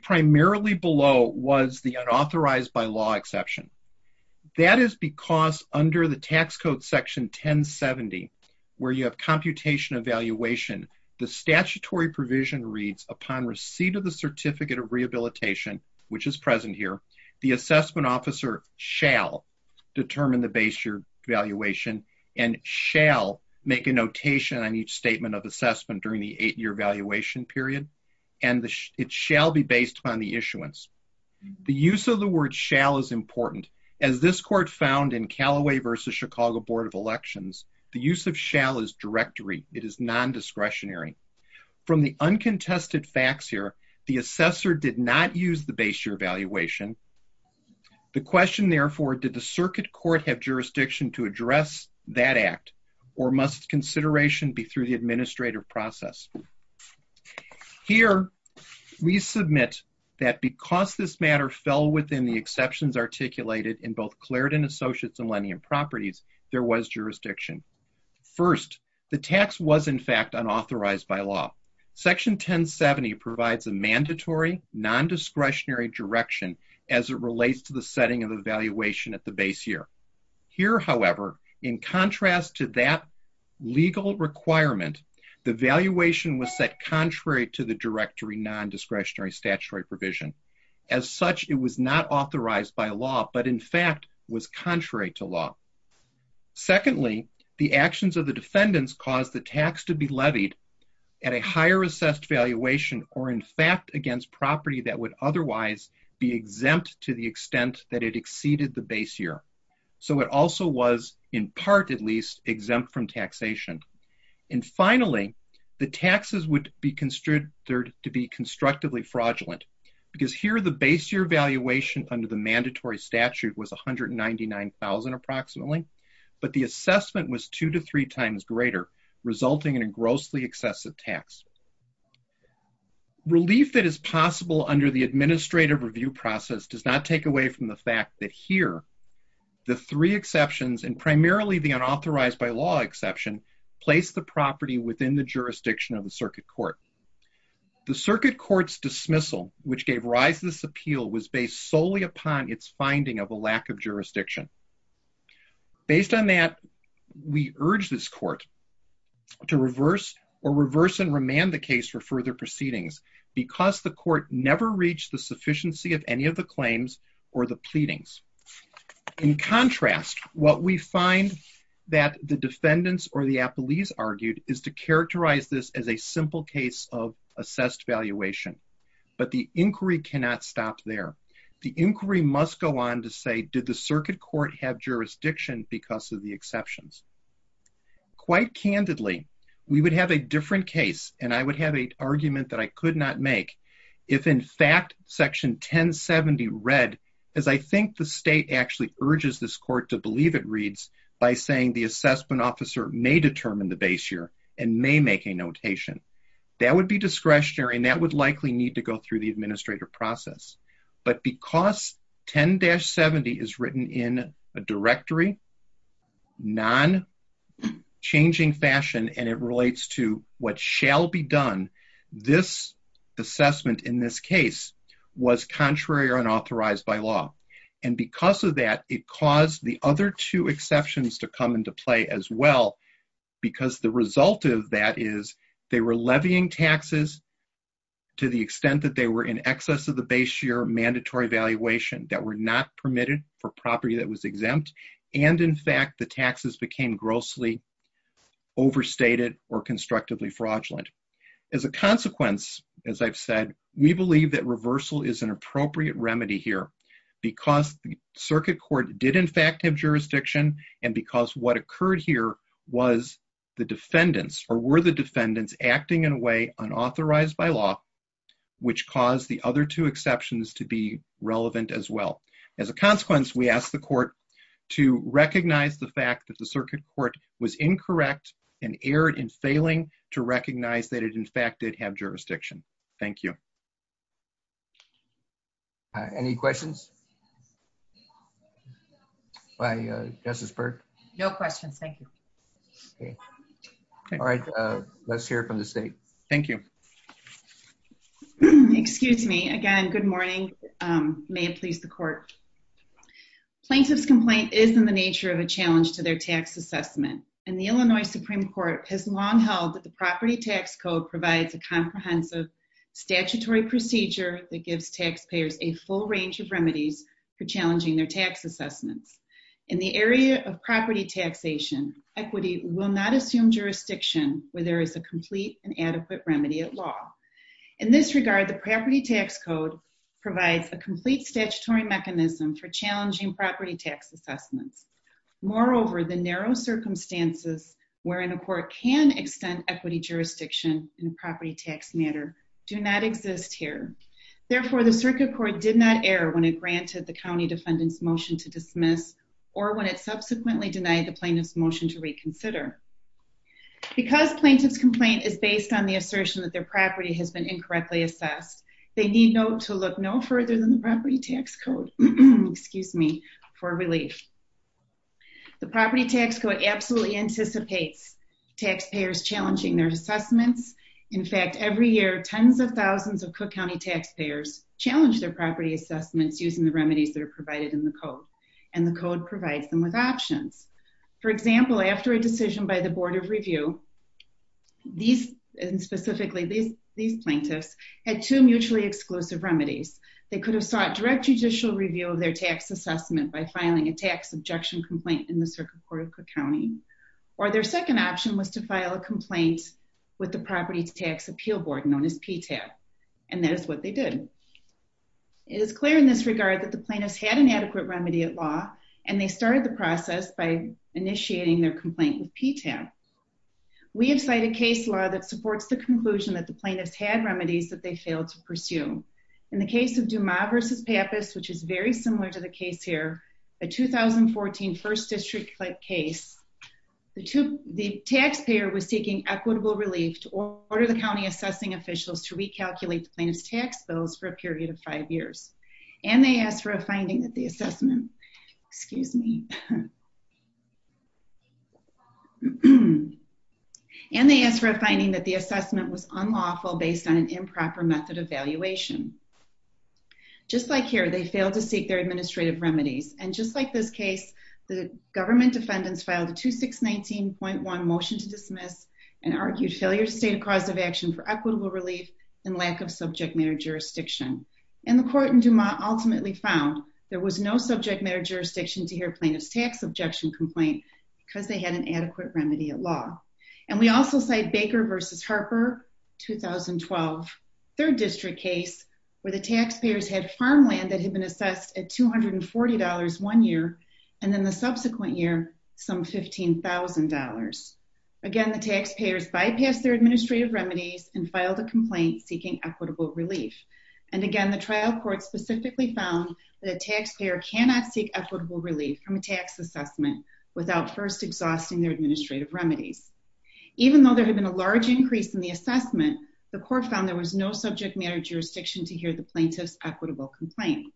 primarily below was the unauthorized by law exception. That is because under the tax code section 1070, where you have computation evaluation, the statutory provision reads, upon receipt of the certificate of rehabilitation, which is present here, the assessment officer shall determine the base year valuation and shall make a notation on each statement of assessment during the eight-year valuation period, and it shall be based upon the issuance. The use of the word shall is important. As this court found in Callaway v. Chicago Board of Elections, the use of shall is directory. It is non-discretionary. From the uncontested facts here, the assessor did not use the base year valuation. The question, therefore, did the circuit court have jurisdiction to address that act, or must consideration be the administrative process? Here, we submit that because this matter fell within the exceptions articulated in both Clarendon Associates and Lennie and Properties, there was jurisdiction. First, the tax was, in fact, unauthorized by law. Section 1070 provides a mandatory, non-discretionary direction as it relates to the setting of the valuation at the base year. Here, however, in contrast to that legal requirement, the valuation was set contrary to the directory non-discretionary statutory provision. As such, it was not authorized by law, but, in fact, was contrary to law. Secondly, the actions of the defendants caused the tax to be levied at a higher assessed valuation or, in fact, against property that would otherwise be exempt to the extent that it exceeded the base year. So, it also was, in part at least, exempt from taxation. And finally, the taxes would be considered to be constructively fraudulent because here the base year valuation under the mandatory statute was $199,000 approximately, but the assessment was two to three times greater, resulting in a grossly excessive tax. Relief that is possible under the administrative review process does not take away from the fact that here the three exceptions, and primarily the unauthorized by law exception, place the property within the jurisdiction of the circuit court. The circuit court's dismissal, which gave rise to this appeal, was based solely upon its finding of a lack of jurisdiction. Based on that, we urge this court to reverse or reverse and remand the case for further proceedings because the court never reached the sufficiency of any of the claims or the pleadings. In contrast, what we find that the defendants or the appellees argued is to characterize this as a simple case of assessed valuation, but the inquiry cannot stop there. The inquiry must go on to say, did the circuit court have jurisdiction because of the exceptions? Quite candidly, we would have a different case and I would have an argument that I could not make if in fact section 1070 read, as I think the state actually urges this court to believe it reads, by saying the assessment officer may determine the base year and may make a notation. That would be discretionary and that likely need to go through the administrative process. But because 10-70 is written in a directory, non-changing fashion, and it relates to what shall be done, this assessment in this case was contrary or unauthorized by law. Because of that, it caused the other two exceptions to come into play as well. Because the result of that is they were levying taxes to the extent that they were in excess of the base year mandatory valuation that were not permitted for property that was exempt. And in fact, the taxes became grossly overstated or constructively fraudulent. As a consequence, as I've said, we believe that reversal is an appropriate remedy here because the circuit court did in fact have jurisdiction and because what occurred here was the defendants or were the defendants acting in a way unauthorized by law, which caused the other two exceptions to be relevant as well. As a consequence, we ask the court to recognize the fact that the circuit court was incorrect and erred in failing to recognize that it in fact did have jurisdiction. Thank you. All right. Any questions by Justice Burke? No questions. Thank you. Okay. All right. Let's hear from the state. Thank you. Excuse me. Again, good morning. May it please the court. Plaintiff's complaint is in the nature of a challenge to their tax assessment, and the Illinois Supreme Court has long held that the gives taxpayers a full range of remedies for challenging their tax assessments. In the area of property taxation, equity will not assume jurisdiction where there is a complete and adequate remedy at law. In this regard, the property tax code provides a complete statutory mechanism for challenging property tax assessments. Moreover, the narrow circumstances wherein a court can extend equity jurisdiction in a property tax matter do not exist here. Therefore, the circuit court did not err when it granted the county defendant's motion to dismiss or when it subsequently denied the plaintiff's motion to reconsider. Because plaintiff's complaint is based on the assertion that their property has been incorrectly assessed, they need to look no further than the property tax code, excuse me, for relief. The property tax code absolutely anticipates taxpayers challenging their assessments. In fact, every year, tens of thousands of Cook County taxpayers challenge their property assessments using the remedies that are provided in the code, and the code provides them with options. For example, after a decision by the board of review, these, and specifically these plaintiffs, had two mutually exclusive remedies. They could have sought direct judicial review of their tax assessment by filing a tax objection complaint in the circuit court of Cook County, or their second option was to file a complaint with the property tax appeal board known as PTAP, and that is what they did. It is clear in this regard that the plaintiffs had an adequate remedy at law, and they started the process by initiating their complaint with PTAP. We have cited case law that supports the conclusion that the plaintiffs had remedies that they failed to pursue. In the case of Dumas v. Pappas, which is very similar to the case here, a 2014 first district case, the taxpayer was seeking equitable relief to order the county assessing officials to recalculate the plaintiff's tax bills for a period of five years, and they asked for a finding that the assessment, excuse me, and they asked for a finding that the assessment was unlawful based on an improper method of valuation. Just like here, they failed to seek their administrative remedies, and just like this case, the government defendants filed a 2619.1 motion to dismiss and argued failure to state a cause of action for equitable relief and lack of subject matter jurisdiction, and the court in Dumas ultimately found there was no subject matter jurisdiction to hear plaintiff's tax objection complaint because they had an adequate Harper, 2012, third district case where the taxpayers had farmland that had been assessed at $240 one year and then the subsequent year some $15,000. Again, the taxpayers bypassed their administrative remedies and filed a complaint seeking equitable relief, and again, the trial court specifically found that a taxpayer cannot seek equitable relief from a tax assessment without first exhausting their administrative remedies. Even though there had been a large increase in the assessment, the court found there was no subject matter jurisdiction to hear the plaintiff's equitable complaint.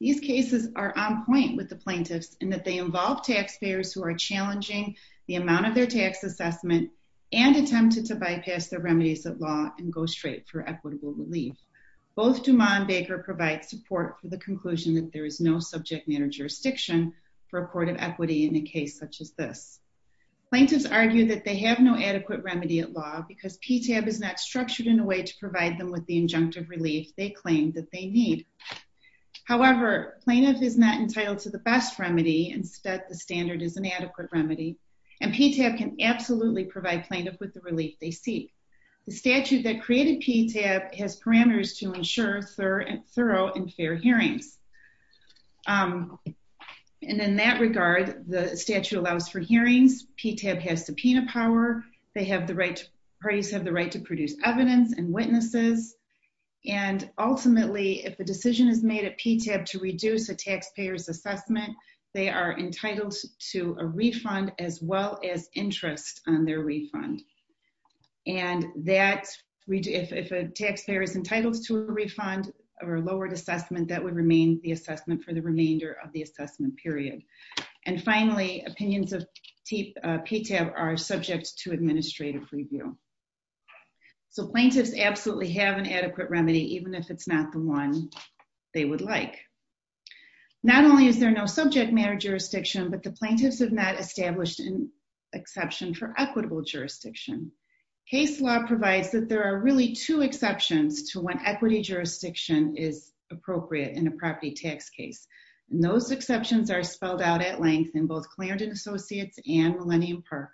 These cases are on point with the plaintiffs in that they involve taxpayers who are challenging the amount of their tax assessment and attempted to bypass their remedies at law and go straight for equitable relief. Both Dumas and Baker provide support for the conclusion that there is no subject matter jurisdiction for a court of equity in a case such as this. Plaintiffs argue that they have no adequate remedy at law because PTAB is not structured in a way to provide them with the injunctive relief they claim that they need. However, plaintiff is not entitled to the best remedy. Instead, the standard is an adequate remedy, and PTAB can absolutely provide plaintiff with the relief they seek. The statute that created PTAB has parameters to ensure thorough and fair hearings, and in that regard, the statute allows for hearings. PTAB has subpoena power. They have the right, parties have the right to produce evidence and witnesses, and ultimately, if the decision is made at PTAB to reduce a taxpayer's assessment, they are entitled to a refund as well as interest on their refund. And that, if a taxpayer is entitled to a refund or lowered assessment, that would remain the same. And finally, opinions of PTAB are subject to administrative review. So plaintiffs absolutely have an adequate remedy, even if it's not the one they would like. Not only is there no subject matter jurisdiction, but the plaintiffs have not established an exception for equitable jurisdiction. Case law provides that there are really two exceptions to when equity jurisdiction is appropriate in a property tax case, and those exceptions are both Clarendon Associates and Millennium Park,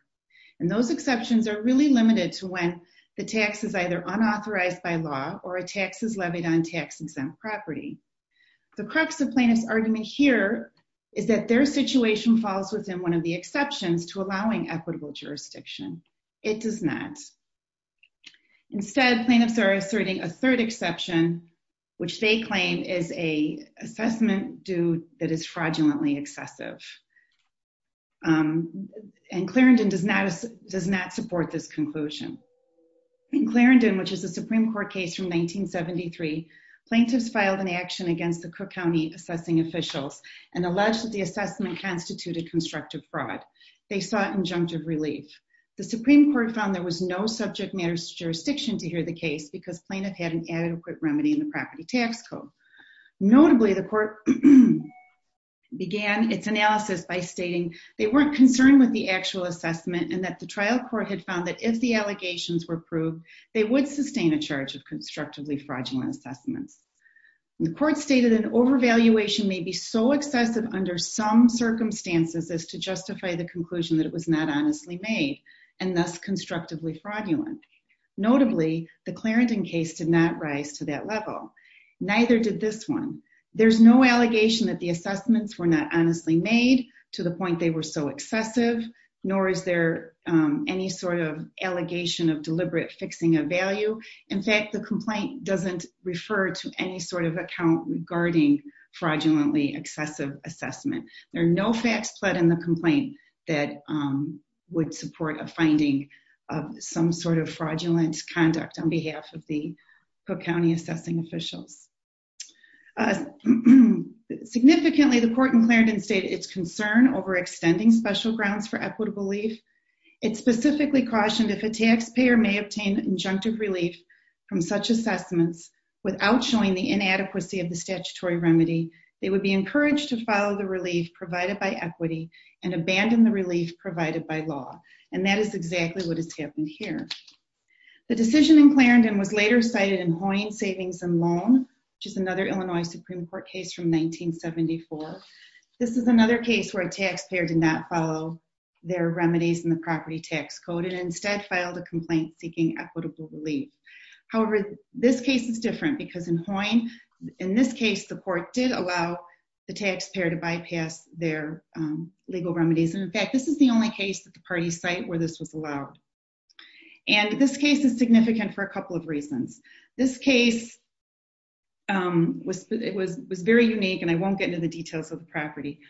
and those exceptions are really limited to when the tax is either unauthorized by law or a tax is levied on tax-exempt property. The crux of plaintiff's argument here is that their situation falls within one of the exceptions to allowing equitable jurisdiction. It does not. Instead, plaintiffs are asserting a third exception, which they claim is an assessment that is fraudulently excessive. And Clarendon does not support this conclusion. In Clarendon, which is a Supreme Court case from 1973, plaintiffs filed an action against the Cook County assessing officials and alleged that the assessment constituted constructive fraud. They sought injunctive relief. The Supreme Court found there was no subject matter jurisdiction to hear the case because plaintiff had an adequate remedy in the property tax code. Notably, the court began its analysis by stating they weren't concerned with the actual assessment and that the trial court had found that if the allegations were proved, they would sustain a charge of constructively fraudulent assessments. The court stated an overvaluation may be so excessive under some circumstances as to justify the conclusion that it was not honestly made and thus constructively fraudulent. Notably, the Clarendon case did not rise to that level. Neither did this one. There's no allegation that the assessments were not honestly made to the point they were so excessive, nor is there any sort of allegation of deliberate fixing of value. In fact, the complaint doesn't refer to any sort account regarding fraudulently excessive assessment. There are no facts put in the complaint that would support a finding of some sort of fraudulent conduct on behalf of the Cook County assessing officials. Significantly, the court in Clarendon stated its concern over extending special grounds for equitable relief. It specifically cautioned if a taxpayer may obtain injunctive relief from such assessments without showing the inadequacy of the statutory remedy, they would be encouraged to follow the relief provided by equity and abandon the relief provided by law. That is exactly what has happened here. The decision in Clarendon was later cited in Hoyne Savings and Loan, which is another Illinois Supreme Court case from 1974. This is another case where a taxpayer did not follow their remedies in the property tax code and instead filed a complaint seeking equitable relief. However, this case is different because in Hoyne, in this case, the court did allow the taxpayer to bypass their legal remedies. And in fact, this is the only case that the parties cite where this was allowed. And this case is significant for a couple of reasons. This case was very unique, and I won't get into the details of the property,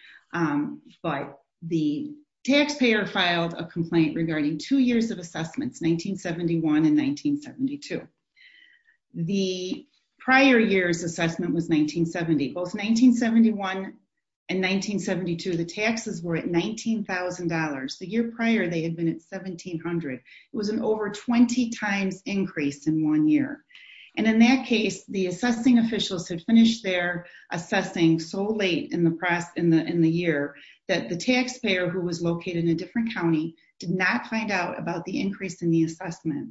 but the taxpayer filed a complaint regarding two years of assessments, 1971 and 1972. The prior year's assessment was 1970. Both 1971 and 1972, the taxes were at $19,000. The year prior, they had been at $1,700. It was an over 20 times increase in one year. And in that case, the assessing officials had finished their assessing so late in the year that the taxpayer, who was located in a different county, did not find out about the increase in the assessment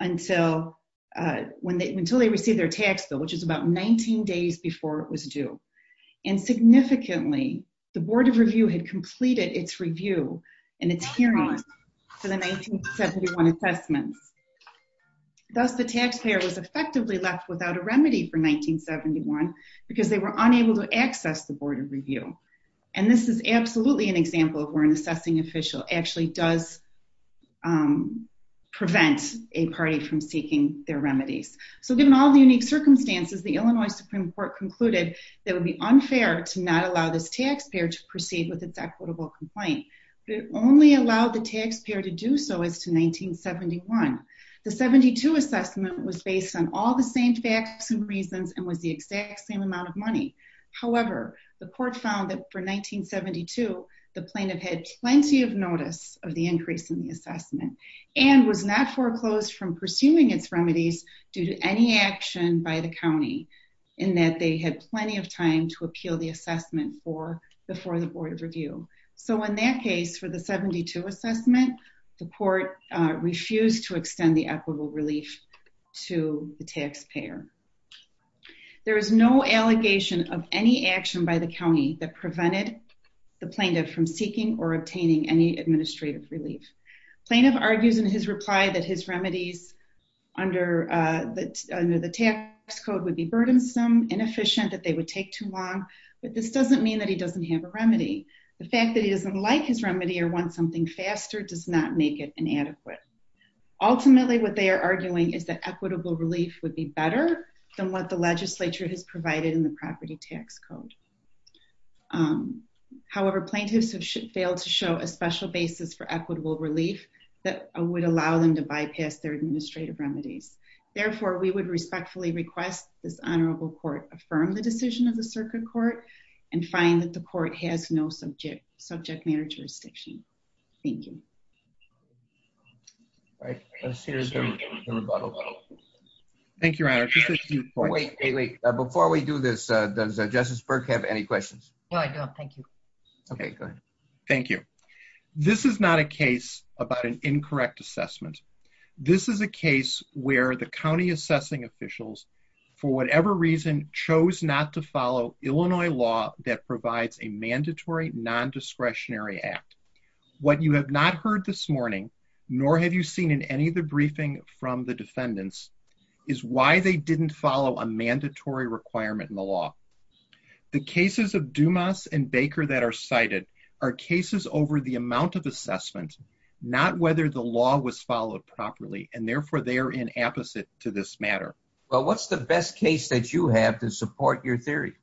until they received their tax bill, which is about 19 days before it was due. And significantly, the Board of Review had completed its review and its hearing for the 1971 assessments. Thus, the taxpayer was effectively left without a remedy for 1971 because they were unable to access the Board of Review. And this is absolutely an example of where an assessing official actually does prevent a party from seeking their remedies. So given all the unique circumstances, the Illinois Supreme Court concluded that it would be unfair to not allow this taxpayer to proceed with its equitable complaint. It only allowed the taxpayer to do so as to 1971. The 1972 assessment was based on all the same facts and reasons and was the exact same amount of money. However, the court found that for 1972, the plaintiff had plenty of notice of the increase in the assessment and was not foreclosed from pursuing its remedies due to any action by the So in that case, for the 1972 assessment, the court refused to extend the equitable relief to the taxpayer. There is no allegation of any action by the county that prevented the plaintiff from seeking or obtaining any administrative relief. Plaintiff argues in his reply that his remedies under the tax code would be burdensome, inefficient, that they would take too long. But this doesn't mean that he doesn't have a remedy. The fact that he doesn't like his remedy or want something faster does not make it inadequate. Ultimately, what they are arguing is that equitable relief would be better than what the legislature has provided in the property tax code. However, plaintiffs have failed to show a special basis for equitable relief that would allow them to bypass their administrative remedies. Therefore, we would respectfully request this honorable court affirm the decision of the circuit court and find that the court has no subject matter jurisdiction. Thank you. All right, let's hear the rebuttal. Thank you, Your Honor. Before we do this, does Justice Burke have any questions? No, I don't. Thank you. Okay, good. Thank you. This is not a case about an incorrect assessment. This is a case where the county assessing officials, for whatever reason, chose not to follow Illinois law that provides a mandatory non-discretionary act. What you have not heard this morning, nor have you seen in any of the briefing from the defendants, is why they didn't follow a mandatory requirement in the law. The cases of Dumas and Baker that are cited are cases over the amount of assessment, not whether the law was followed properly, and therefore they are inapposite to this matter. Well, what's the best case that you have to support your theory?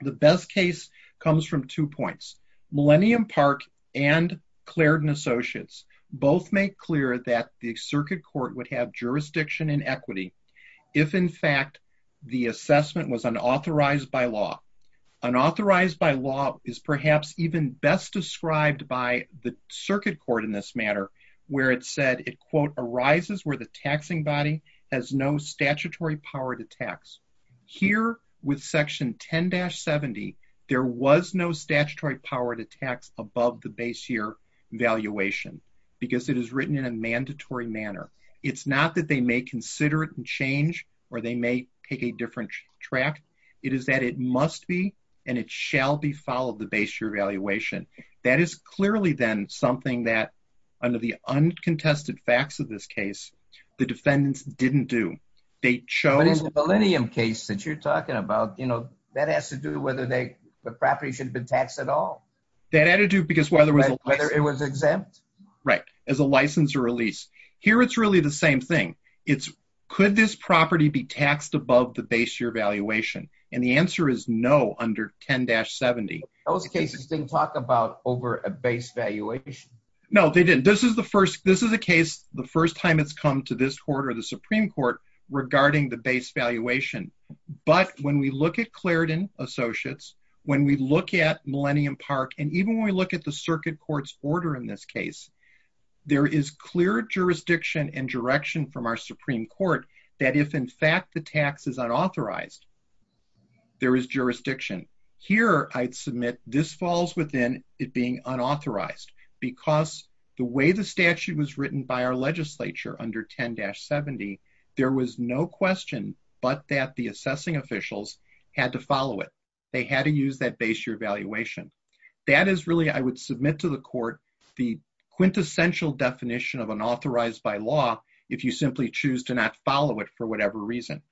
The best case comes from two points. Millennium Park and Clarendon Associates both make clear that the circuit court would have jurisdiction and equity if, in fact, the assessment was authorized by law. An authorized by law is perhaps even best described by the circuit court in this matter, where it said it, quote, arises where the taxing body has no statutory power to tax. Here, with section 10-70, there was no statutory power to tax above the base year valuation because it is written in a mandatory manner. It's not that they may consider it and or they may take a different track. It is that it must be and it shall be followed the base year valuation. That is clearly, then, something that, under the uncontested facts of this case, the defendants didn't do. They chose... But in the Millennium case that you're talking about, that has to do whether the property should have been taxed at all. That had to do because... Whether it was exempt. Right. As a license or a lease. Here, it's really the same thing. It's could this property be taxed above the base year valuation? And the answer is no under 10-70. Those cases didn't talk about over a base valuation. No, they didn't. This is the first... This is a case, the first time it's come to this court or the Supreme Court, regarding the base valuation. But when we look at Clarendon Associates, when we look at Millennium Park, and even when we look at the circuit court's in this case, there is clear jurisdiction and direction from our Supreme Court that if, in fact, the tax is unauthorized, there is jurisdiction. Here, I'd submit this falls within it being unauthorized because the way the statute was written by our legislature under 10-70, there was no question but that the assessing officials had to follow it. They had to use that base year valuation. That is really, I would submit to the court, the quintessential definition of unauthorized by law if you simply choose to not follow it for whatever reason.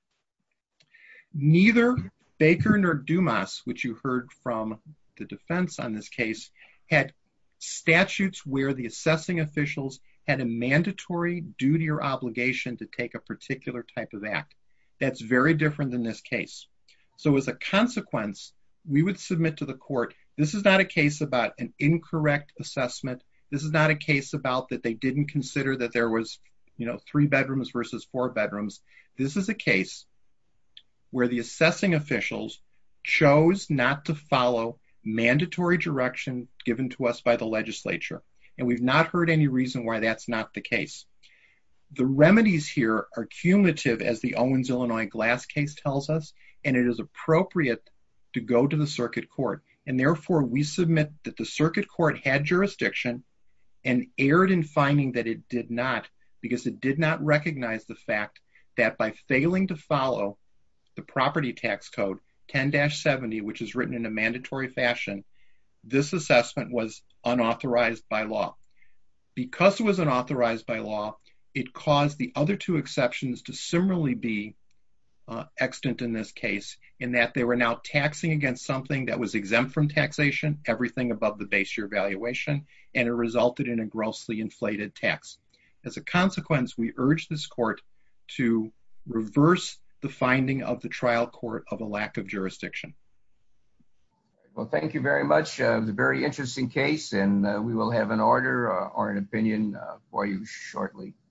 Neither Baker nor Dumas, which you heard from the defense on this case, had statutes where the assessing officials had a mandatory duty or obligation to take a particular type of act. That's very different than this case. So as a consequence, we would submit to the court, this is not a case about an incorrect assessment. This is not a case about that they didn't consider that there was three bedrooms versus four bedrooms. This is a case where the assessing officials chose not to follow mandatory direction given to us by the legislature. And we've not heard any reason why that's not the case. The remedies here are cumulative, as the Owens-Illinois Glass case tells us, and it is appropriate to go to the circuit court. And therefore, we submit that the circuit court had jurisdiction and erred in finding that it did not because it did not recognize the fact that by failing to follow the property tax code 10-70, which is written in a mandatory fashion, this assessment was unauthorized by law. Because it was unauthorized by law, it caused the other two exceptions to similarly be extant in this case in that they were now taxing against something that was exempt from taxation, everything above the base year valuation, and it resulted in a grossly inflated tax. As a consequence, we urge this court to reverse the finding of the trial court of a lack of jurisdiction. Well, thank you very much. It was a very interesting case, and we will have an order or an opinion for you shortly.